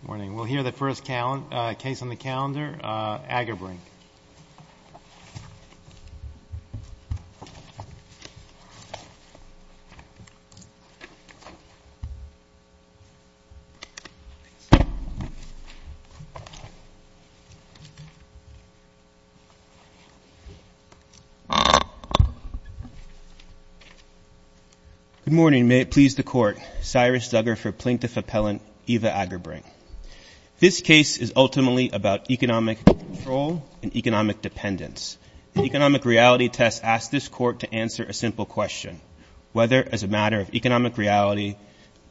Good morning. We'll hear the first case on the calendar, Agerbrink. Good morning. May it please the Court, Cyrus Duggar for Plaintiff Appellant Eva Agerbrink. This case is ultimately about economic control and economic dependence. The economic reality test asked this Court to answer a simple question, whether as a matter of economic reality,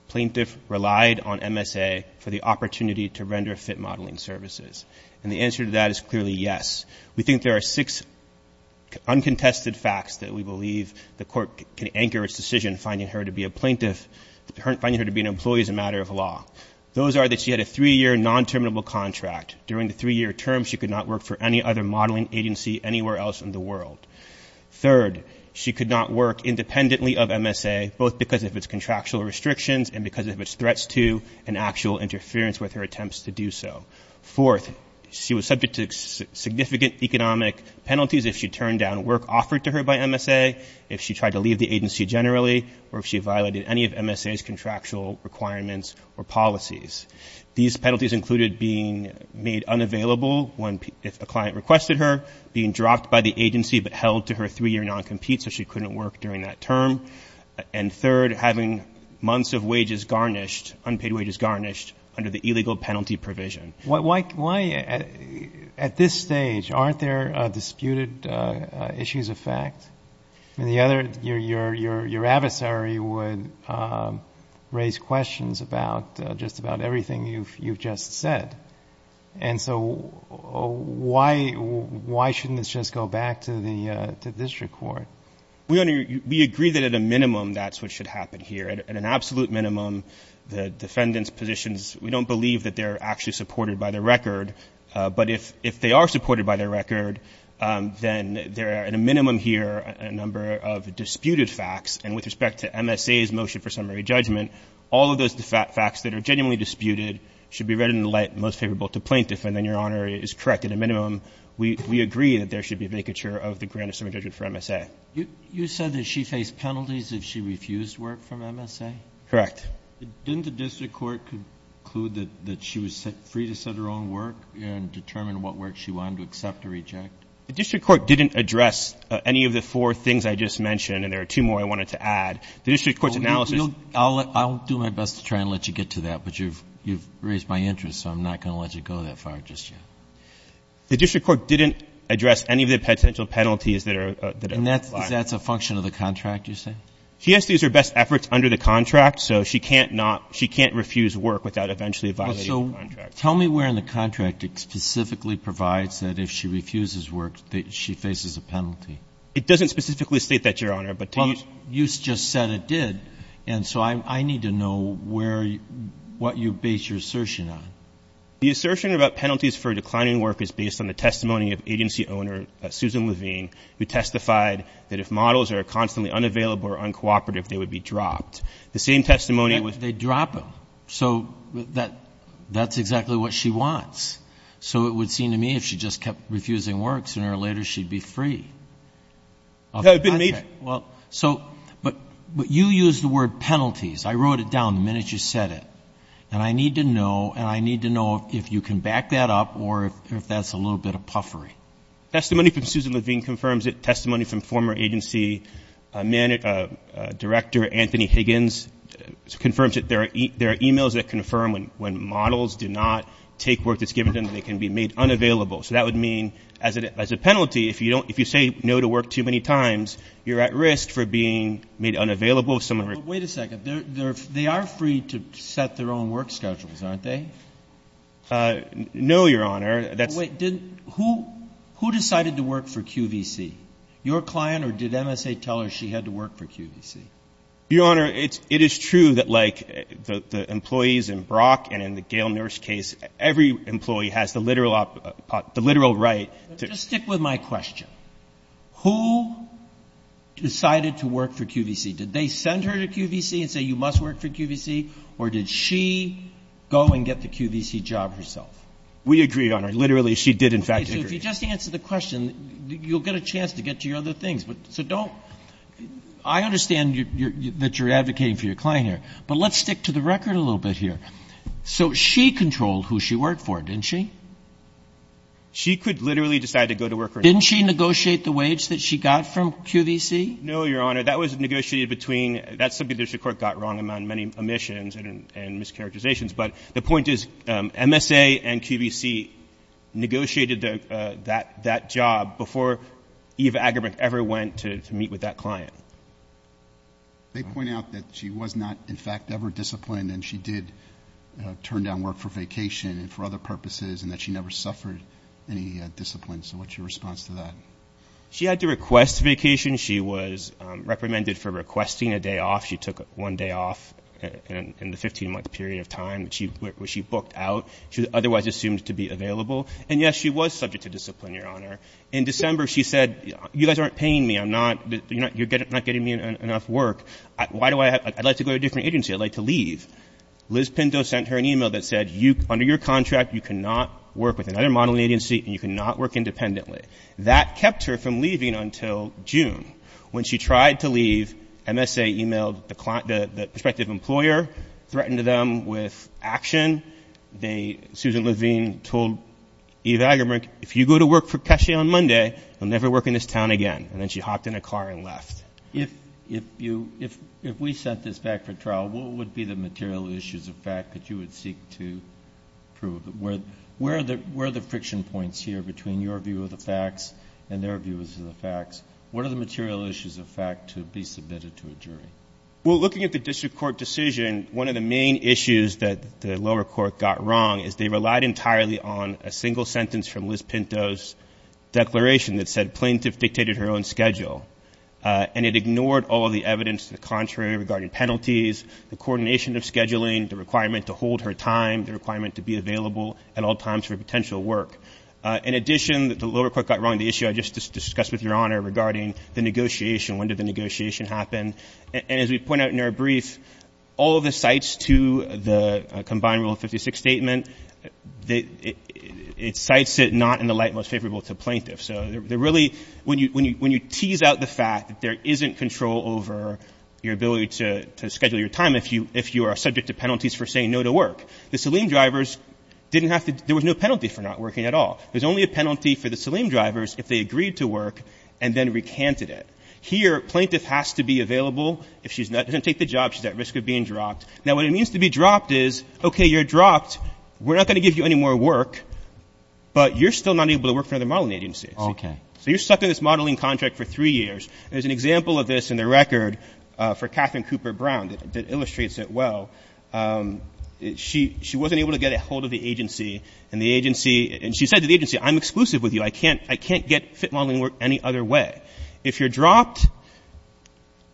plaintiff relied on MSA for the opportunity to render fit modeling services. And the answer to that is clearly yes. We think there are six uncontested facts that we believe the Court can anchor its decision finding her to be a plaintiff, finding her to be an employee as a matter of law. Those are that she had a three-year non-terminable contract. During the three-year term, she could not work for any other modeling agency anywhere else in the world. Third, she could not work independently of MSA, both because of its contractual restrictions and because of its threats to and actual interference with her attempts to do so. Fourth, she was subject to significant economic penalties if she turned down work offered to her by MSA, if she tried to leave the agency generally, or if she violated any of MSA's contractual requirements or policies. These penalties included being made unavailable if a client requested her, being dropped by the agency but held to her three-year non-compete so she couldn't work during that term, and third, having months of wages garnished, unpaid wages garnished under the illegal penalty provision. Why, at this stage, aren't there disputed issues of fact? Your adversary would raise questions about just about everything you've just said, and so why shouldn't this just go back to the district court? We agree that at a minimum that's what should happen here. At an absolute minimum, the defendant's positions, we don't believe that they're actually supported by their record, but if they are supported by their record, then there are at a minimum here a number of disputed facts, and with respect to MSA's motion for summary judgment, all of those facts that are genuinely disputed should be read in the light most favorable to plaintiff, and then Your Honor is correct. At a minimum, we agree that there should be vacature of the grant of summary judgment for MSA. You said that she faced penalties if she refused work from MSA? Correct. Didn't the district court conclude that she was set free to set her own work and determine what work she wanted to accept or reject? The district court didn't address any of the four things I just mentioned, and there are two more I wanted to add. The district court's analysis — I'll do my best to try and let you get to that, but you've raised my interest, so I'm not going to let you go that far just yet. The district court didn't address any of the potential penalties that are — And that's a function of the contract, you say? She has to use her best efforts under the contract, so she can't refuse work without eventually violating the contract. So tell me where in the contract it specifically provides that if she refuses work, she faces a penalty. It doesn't specifically state that, Your Honor, but to use — Well, you just said it did, and so I need to know what you base your assertion on. The assertion about penalties for declining work is based on the testimony of agency owner Susan Levine, who testified that if models are constantly unavailable or uncooperative, they would be dropped. The same testimony was — They drop them. So that's exactly what she wants. So it would seem to me if she just kept refusing works, sooner or later she'd be free of the contract. Well, so — but you used the word penalties. I wrote it down the minute you said it, and I need to know, and I need to know if you can back that up or if that's a little bit of puffery. Testimony from Susan Levine confirms it. Testimony from former agency director Anthony Higgins confirms it. There are e-mails that confirm when models do not take work that's given to them, they can be made unavailable. So that would mean as a penalty, if you say no to work too many times, you're at risk for being made unavailable. Wait a second. They are free to set their own work schedules, aren't they? No, Your Honor. Who decided to work for QVC? Your client or did MSA tell her she had to work for QVC? Your Honor, it is true that like the employees in Brock and in the Gale nurse case, every employee has the literal right to — Just stick with my question. Who decided to work for QVC? Did they send her to QVC and say you must work for QVC, or did she go and get the QVC job herself? We agree, Your Honor. Literally, she did in fact agree. Okay. So if you just answer the question, you'll get a chance to get to your other things. So don't — I understand that you're advocating for your client here, but let's stick to the record a little bit here. So she controlled who she worked for, didn't she? She could literally decide to go to work or not. Didn't she negotiate the wage that she got from QVC? No, Your Honor. That was negotiated between — that's something the district court got wrong among many omissions and mischaracterizations. But the point is MSA and QVC negotiated that job before Eva Agerbrink ever went to meet with that client. They point out that she was not in fact ever disciplined, and she did turn down work for vacation and for other purposes and that she never suffered any discipline. So what's your response to that? She had to request vacation. She was reprimanded for requesting a day off. She took one day off in the 15-month period of time where she booked out. She was otherwise assumed to be available. And, yes, she was subject to discipline, Your Honor. In December, she said, you guys aren't paying me. I'm not — you're not getting me enough work. Why do I have — I'd like to go to a different agency. I'd like to leave. Liz Pinto sent her an email that said, under your contract, you cannot work with another modeling agency and you cannot work independently. That kept her from leaving until June. When she tried to leave, MSA emailed the prospective employer, threatened them with action. They — Susan Levine told Eva Agerbrink, if you go to work for Keshe on Monday, I'll never work in this town again. And then she hopped in a car and left. If you — if we sent this back for trial, what would be the material issues of fact that you would seek to prove? Where are the friction points here between your view of the facts and their views of the facts? What are the material issues of fact to be submitted to a jury? Well, looking at the district court decision, one of the main issues that the lower court got wrong is they relied entirely on a single sentence from Liz Pinto's declaration that said plaintiff dictated her own schedule. And it ignored all of the evidence to the contrary regarding penalties, the coordination of scheduling, the requirement to hold her time, the requirement to be available at all times for potential work. In addition, the lower court got wrong the issue I just discussed with Your Honor regarding the negotiation. When did the negotiation happen? And as we point out in our brief, all of the cites to the combined Rule 56 statement, it cites it not in the light most favorable to plaintiffs. So they're really — when you tease out the fact that there isn't control over your ability to schedule your time if you are subject to penalties for saying no to work, the Saleem drivers didn't have to — there was no penalty for not working at all. There's only a penalty for the Saleem drivers if they agreed to work and then recanted it. Here, plaintiff has to be available. If she doesn't take the job, she's at risk of being dropped. Now, what it means to be dropped is, okay, you're dropped, we're not going to give you any more work, but you're still not able to work for another modeling agency. Okay. So you're stuck in this modeling contract for three years. There's an example of this in the record for Katherine Cooper Brown that illustrates it well. She wasn't able to get a hold of the agency, and the agency — and she said to the agency, I'm exclusive with you, I can't get fit modeling work any other way. If you're dropped,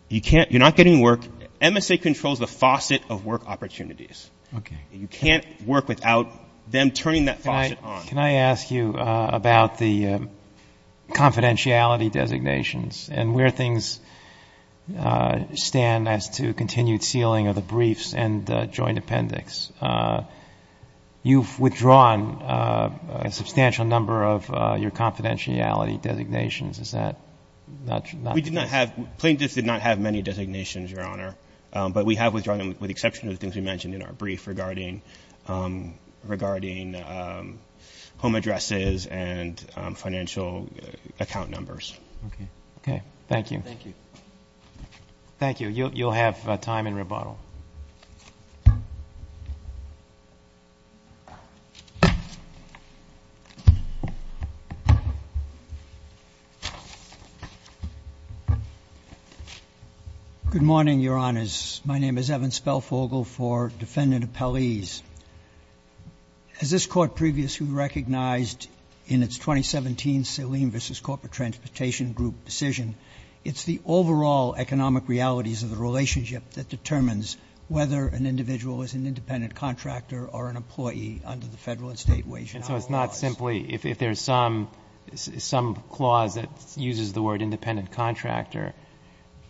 you can't — you're not getting work. MSA controls the faucet of work opportunities. Okay. You can't work without them turning that faucet on. Can I ask you about the confidentiality designations and where things stand as to continued sealing of the briefs and joint appendix? You've withdrawn a substantial number of your confidentiality designations. Is that not true? We did not have — plaintiffs did not have many designations, Your Honor, but we have withdrawn them with the exception of the things we mentioned in our brief regarding home addresses and financial account numbers. Okay. Okay. Thank you. Thank you. Thank you. You'll have time in rebuttal. Good morning, Your Honors. My name is Evan Spelfogel for defendant appellees. As this Court previously recognized in its 2017 Saleem v. Corporate Transportation Group decision, it's the overall economic realities of the relationship that determines whether an individual is an independent contractor or an employee under the Federal and State Wage Act. And so it's not simply — if there's some clause that uses the word independent contractor,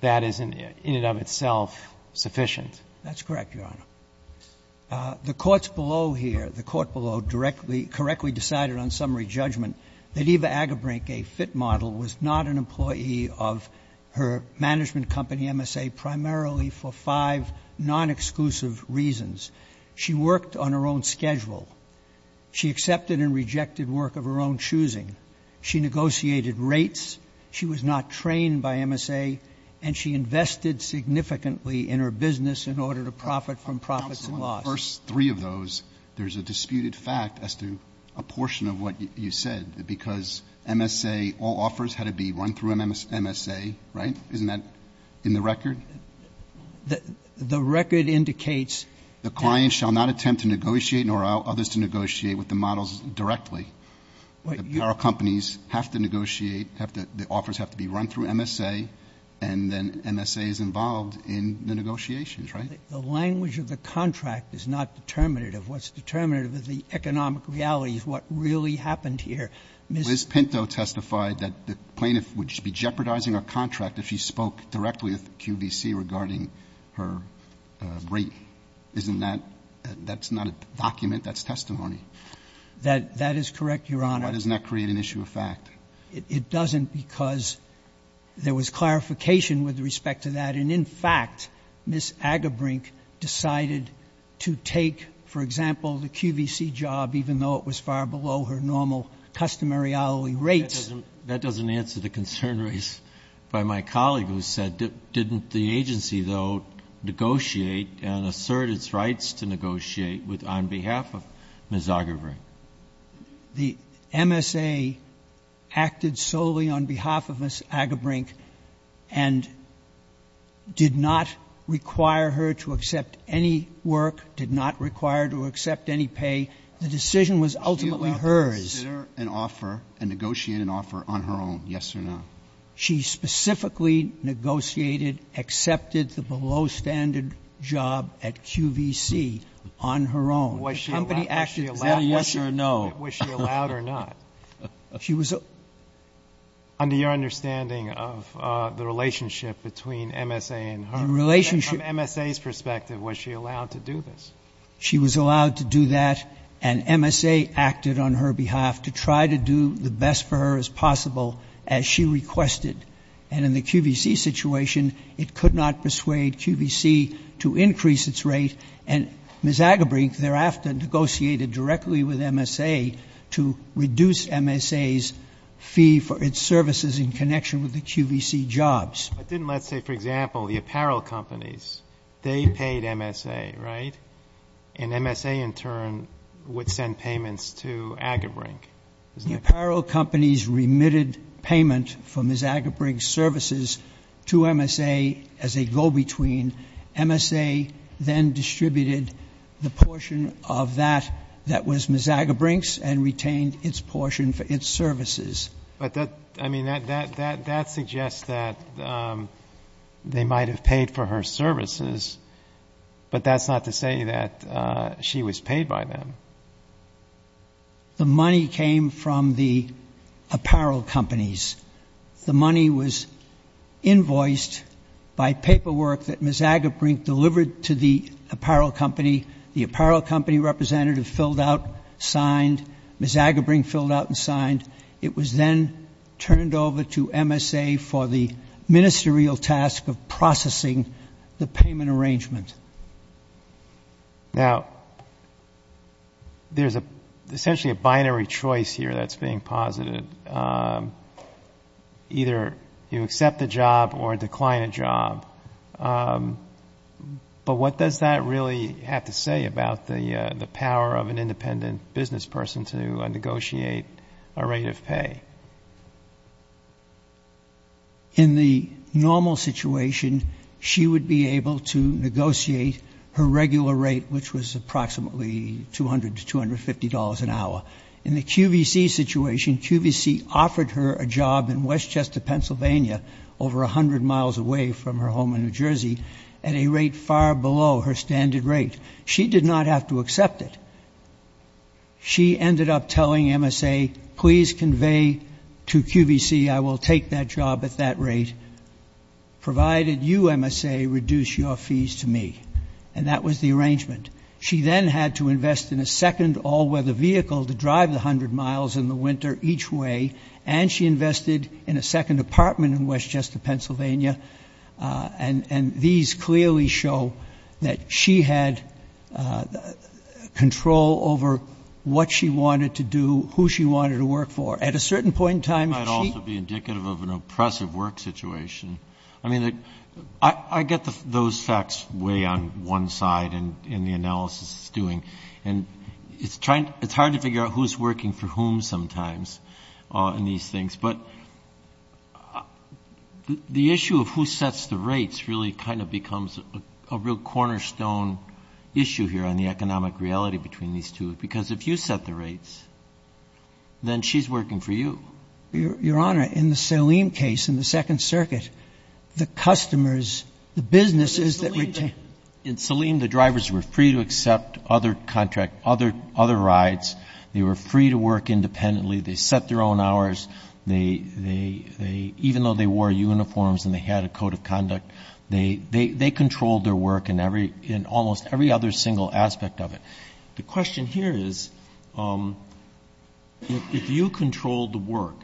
that isn't in and of itself sufficient. That's correct, Your Honor. The courts below here, the court below, correctly decided on summary judgment that Eva Agerbrink, a FIT model, was not an employee of her management company, MSA, primarily for five non-exclusive reasons. She worked on her own schedule. She accepted and rejected work of her own choosing. She negotiated rates. She was not trained by MSA. And she invested significantly in her business in order to profit from profits and loss. On the first three of those, there's a disputed fact as to a portion of what you said, because MSA, all offers had to be run through MSA, right? Isn't that in the record? The record indicates — The client shall not attempt to negotiate nor others to negotiate with the models directly. Our companies have to negotiate, the offers have to be run through MSA, and then MSA is involved in the negotiations, right? The language of the contract is not determinative. What's determinative is the economic reality of what really happened here. Ms. Pinto testified that the plaintiff would be jeopardizing her contract if she spoke directly with QVC regarding her rate. Isn't that — that's not a document. That's testimony. That is correct, Your Honor. Why doesn't that create an issue of fact? It doesn't because there was clarification with respect to that. And, in fact, Ms. Agerbrink decided to take, for example, the QVC job, even though it was far below her normal customary hourly rates. That doesn't answer the concern raised by my colleague who said, But didn't the agency, though, negotiate and assert its rights to negotiate with — on behalf of Ms. Agerbrink? The MSA acted solely on behalf of Ms. Agerbrink and did not require her to accept any work, did not require her to accept any pay. The decision was ultimately hers. She did not consider an offer, a negotiated offer, on her own, yes or no. She specifically negotiated, accepted the below-standard job at QVC on her own. Was she allowed — The company acted — Is that a yes or a no? Was she allowed or not? She was — Under your understanding of the relationship between MSA and her. The relationship — From MSA's perspective, was she allowed to do this? She was allowed to do that, and MSA acted on her behalf to try to do the best for her as possible as she requested. And in the QVC situation, it could not persuade QVC to increase its rate, and Ms. Agerbrink thereafter negotiated directly with MSA to reduce MSA's fee for its services in connection with the QVC jobs. But didn't, let's say, for example, the apparel companies, they paid MSA, right? And MSA in turn would send payments to Agerbrink, isn't it? The apparel companies remitted payment for Ms. Agerbrink's services to MSA as a go-between. MSA then distributed the portion of that that was Ms. Agerbrink's and retained its portion for its services. But that — I mean, that suggests that they might have paid for her services, but that's not to say that she was paid by them. The money came from the apparel companies. The money was invoiced by paperwork that Ms. Agerbrink delivered to the apparel company. The apparel company representative filled out, signed. Ms. Agerbrink filled out and signed. It was then turned over to MSA for the ministerial task of processing the payment arrangement. Now, there's essentially a binary choice here that's being posited. Either you accept the job or decline a job. But what does that really have to say about the power of an independent business person to negotiate a rate of pay? In the normal situation, she would be able to negotiate her regular rate, which was approximately $200 to $250 an hour. In the QVC situation, QVC offered her a job in Westchester, Pennsylvania, over 100 miles away from her home in New Jersey, at a rate far below her standard rate. She did not have to accept it. She ended up telling MSA, please convey to QVC I will take that job at that rate, provided you, MSA, reduce your fees to me. And that was the arrangement. She then had to invest in a second all-weather vehicle to drive the 100 miles in the winter each way, and she invested in a second apartment in Westchester, Pennsylvania. And these clearly show that she had control over what she wanted to do, who she wanted to work for. At a certain point in time, she — It might also be indicative of an oppressive work situation. I mean, I get those facts way on one side in the analysis it's doing, and it's hard to figure out who's working for whom sometimes in these things. But the issue of who sets the rates really kind of becomes a real cornerstone issue here on the economic reality between these two, because if you set the rates, then she's working for you. Your Honor, in the Saleem case, in the Second Circuit, the customers, the businesses that retained — In Saleem, the drivers were free to accept other rides. They were free to work independently. They set their own hours. They — even though they wore uniforms and they had a code of conduct, they controlled their work in almost every other single aspect of it. The question here is, if you controlled the work,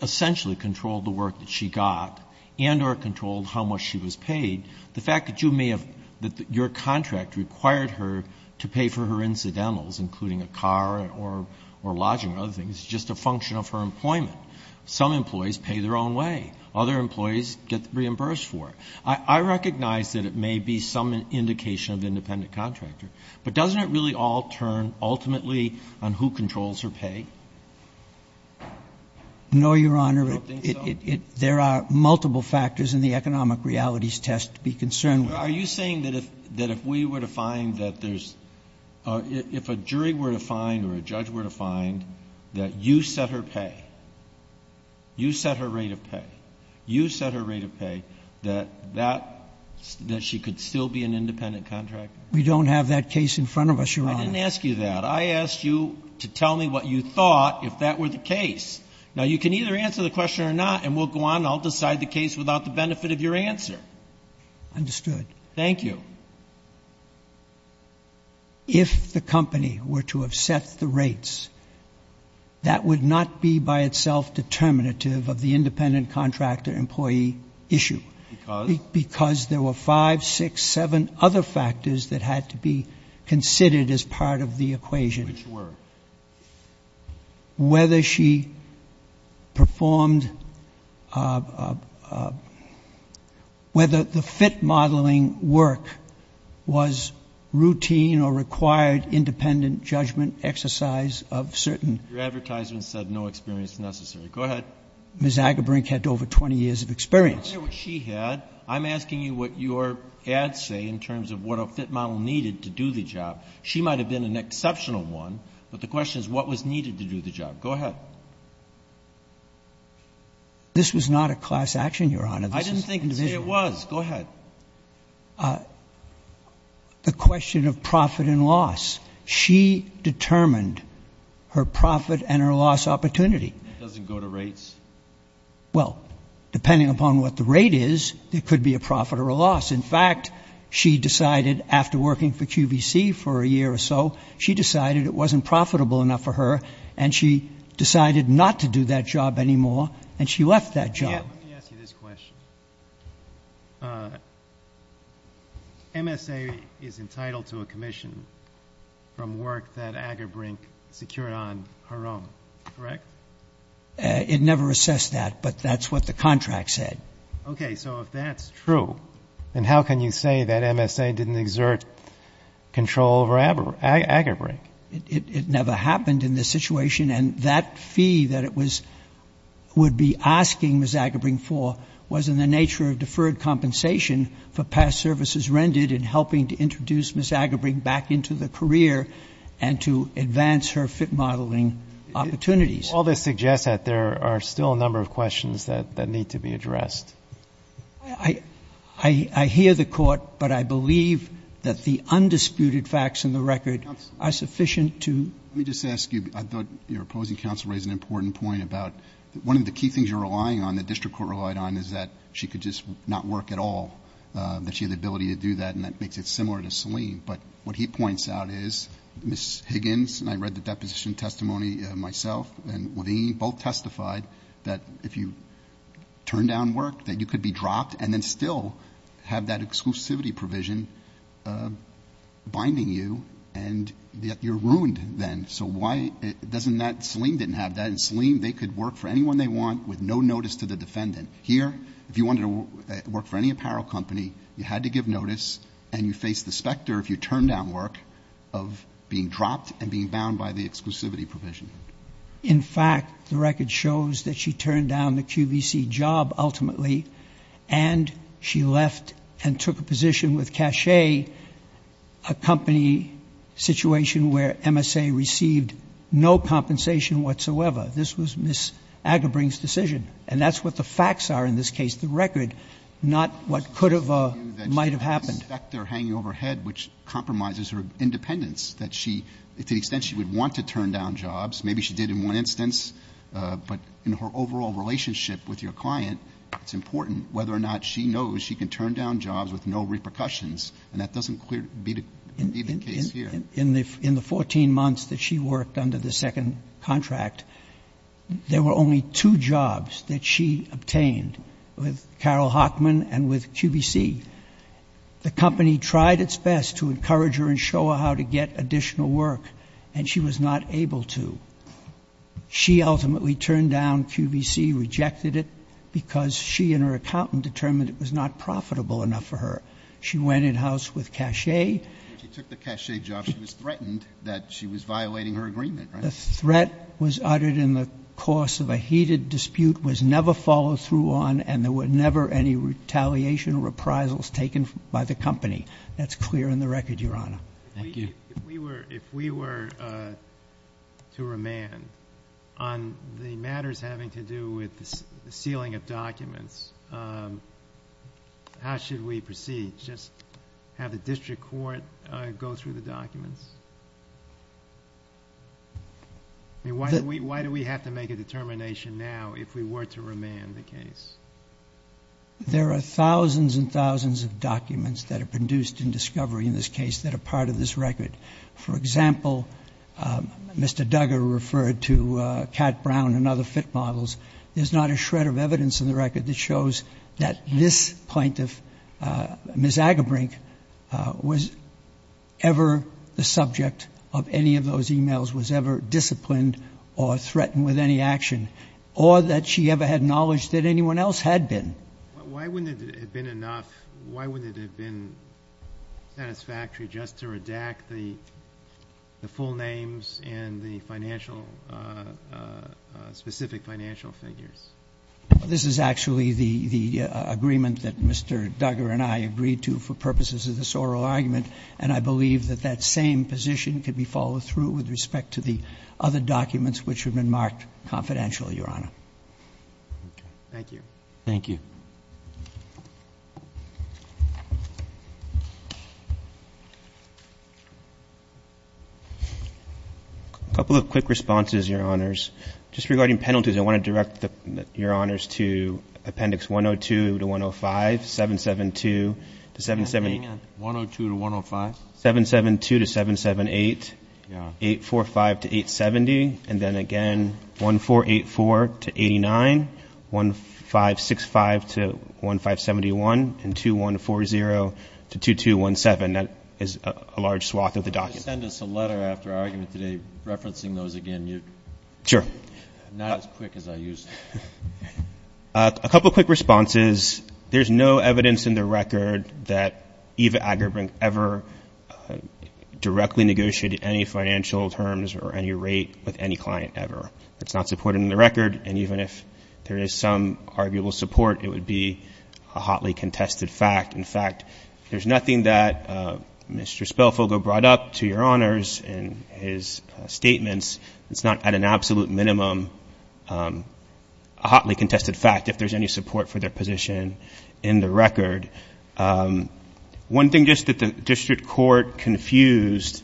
essentially controlled the work that she got, and or controlled how much she was paid, the fact that you may have — that your contract required her to pay for her incidentals, including a car or lodging or other things, is just a function of her employment. Some employees pay their own way. Other employees get reimbursed for it. I recognize that it may be some indication of independent contractor, but doesn't it really all turn ultimately on who controls her pay? No, Your Honor. You don't think so? There are multiple factors in the economic realities test to be concerned with. Are you saying that if we were to find that there's — if a jury were to find or a judge were to find that you set her pay, you set her rate of pay, you set her rate of pay, that that — that she could still be an independent contractor? We don't have that case in front of us, Your Honor. I didn't ask you that. I asked you to tell me what you thought, if that were the case. Now, you can either answer the question or not, and we'll go on and I'll decide the case without the benefit of your answer. Understood. Thank you. If the company were to have set the rates, that would not be by itself determinative of the independent contractor employee issue. Because? Because there were five, six, seven other factors that had to be considered as part of the equation. Which were? Whether she performed — whether the FIT modeling work was routine or required independent judgment exercise of certain — Your advertisement said no experience necessary. Go ahead. Ms. Agerbrink had over 20 years of experience. I don't care what she had. I'm asking you what your ads say in terms of what a FIT model needed to do the job. She might have been an exceptional one, but the question is what was needed to do the job. Go ahead. This was not a class action, Your Honor. I didn't say it was. Go ahead. The question of profit and loss. She determined her profit and her loss opportunity. It doesn't go to rates? In fact, she decided after working for QVC for a year or so, she decided it wasn't profitable enough for her, and she decided not to do that job anymore, and she left that job. Let me ask you this question. MSA is entitled to a commission from work that Agerbrink secured on her own, correct? It never assessed that, but that's what the contract said. Okay. So if that's true, then how can you say that MSA didn't exert control over Agerbrink? It never happened in this situation, and that fee that it would be asking Ms. Agerbrink for was in the nature of deferred compensation for past services rendered in helping to introduce Ms. Agerbrink back into the career and to advance her FIT modeling opportunities. All this suggests that there are still a number of questions that need to be addressed. I hear the court, but I believe that the undisputed facts in the record are sufficient to ---- Let me just ask you, I thought your opposing counsel raised an important point about one of the key things you're relying on, the district court relied on, is that she could just not work at all, that she had the ability to do that, and that makes it similar to Selene. But what he points out is Ms. Higgins, and I read the deposition testimony myself, and Wadini both testified that if you turn down work, that you could be dropped and then still have that exclusivity provision binding you, and yet you're ruined then. So why doesn't that ---- Selene didn't have that, and Selene, they could work for anyone they want with no notice to the defendant. Here, if you wanted to work for any apparel company, you had to give notice, and you face the specter, if you turn down work, of being dropped and being bound by the exclusivity provision. In fact, the record shows that she turned down the QVC job ultimately, and she left and took a position with Cachet, a company situation where MSA received no compensation whatsoever. This was Ms. Agerbring's decision, and that's what the facts are in this case, the record, not what could have or might have happened. I assume that you suspect they're hanging over her head, which compromises her independence, that she, to the extent she would want to turn down jobs, maybe she did in one instance, but in her overall relationship with your client, it's important whether or not she knows she can turn down jobs with no repercussions, and that doesn't clearly be the case here. In the 14 months that she worked under the second contract, there were only two jobs that she obtained, with Carol Hockman and with QVC. The company tried its best to encourage her and show her how to get additional work, and she was not able to. She ultimately turned down QVC, rejected it, because she and her accountant determined it was not profitable enough for her. She went in-house with Cachet. She took the Cachet job. She was threatened that she was violating her agreement, right? The threat was uttered in the course of a heated dispute, was never followed through on, and there were never any retaliation or reprisals taken by the company. That's clear in the record, Your Honor. Thank you. If we were to remand on the matters having to do with the sealing of documents, how should we proceed? Just have the district court go through the documents? I mean, why do we have to make a determination now if we were to remand the case? There are thousands and thousands of documents that are produced in discovery in this case that are part of this record. For example, Mr. Duggar referred to Cat Brown and other fit models. There's not a shred of evidence in the record that shows that this plaintiff, Ms. Agerbrink, was ever the subject of any of those e-mails, was ever disciplined or threatened with any action, or that she ever had knowledge that anyone else had been. Why wouldn't it have been enough? Why wouldn't it have been satisfactory just to redact the full names and the financial, specific financial figures? This is actually the agreement that Mr. Duggar and I agreed to for purposes of this oral argument, and I believe that that same position could be followed through with respect to the other documents which have been marked confidential, Your Honor. Thank you. Thank you. Thank you. A couple of quick responses, Your Honors. Just regarding penalties, I want to direct Your Honors to Appendix 102 to 105, 772 to 770. 102 to 105? 772 to 778, 845 to 870, and then again, 1484 to 89, 1565 to 1571, and 2140 to 2217. That is a large swath of the documents. Can you send us a letter after our argument today referencing those again? Sure. Not as quick as I used to. A couple of quick responses. There's no evidence in the record that Eva Agerbrink ever directly negotiated any financial terms or any rate with any client ever. That's not supported in the record, and even if there is some arguable support, it would be a hotly contested fact. In fact, there's nothing that Mr. Spillfogel brought up to Your Honors in his statements. It's not at an absolute minimum a hotly contested fact if there's any support for their position in the record. One thing just that the district court confused,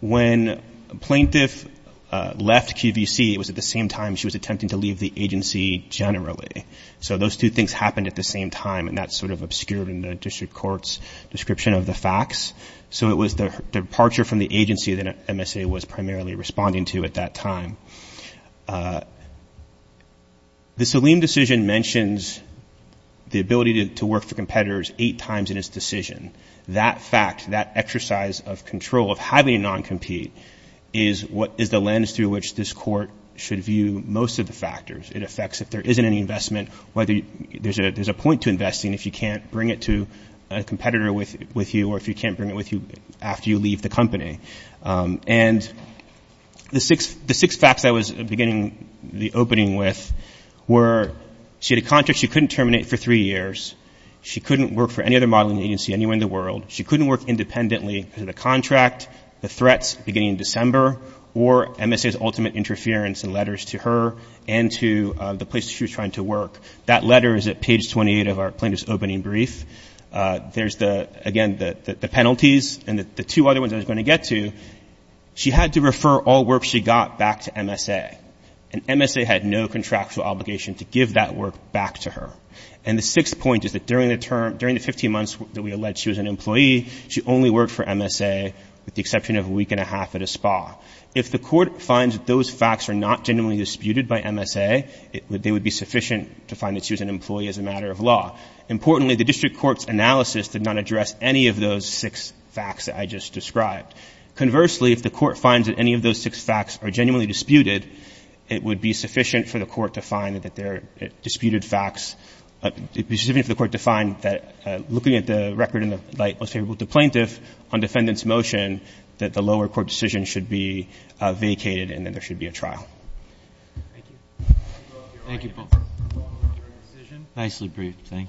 when a plaintiff left QVC, it was at the same time she was attempting to leave the agency generally. So those two things happened at the same time, and that's sort of obscured in the district court's description of the facts. So it was the departure from the agency that MSA was primarily responding to at that time. The Saleem decision mentions the ability to work for competitors eight times in its decision. That fact, that exercise of control of having a non-compete, is the lens through which this court should view most of the factors. It affects if there isn't any investment, whether there's a point to investing if you can't bring it to a competitor with you or if you can't bring it with you after you leave the company. And the six facts I was beginning the opening with were she had a contract she couldn't terminate for three years. She couldn't work for any other modeling agency anywhere in the world. She couldn't work independently because of the contract, the threats beginning in December, or MSA's ultimate interference in letters to her and to the place she was trying to work. That letter is at page 28 of our plaintiff's opening brief. There's the, again, the penalties and the two other ones I was going to get to. She had to refer all work she got back to MSA. And MSA had no contractual obligation to give that work back to her. And the sixth point is that during the term, during the 15 months that we alleged she was an employee, she only worked for MSA with the exception of a week and a half at a spa. If the court finds that those facts are not genuinely disputed by MSA, they would be sufficient to find that she was an employee as a matter of law. Importantly, the district court's analysis did not address any of those six facts that I just described. Conversely, if the court finds that any of those six facts are genuinely disputed, it would be sufficient for the court to find that they're disputed facts. It would be sufficient for the court to find that looking at the record in the light most favorable to the plaintiff on defendant's motion that the lower court decision should be vacated and that there should be a trial. Thank you. Thank you, Paul. Nicely briefed. Thank you.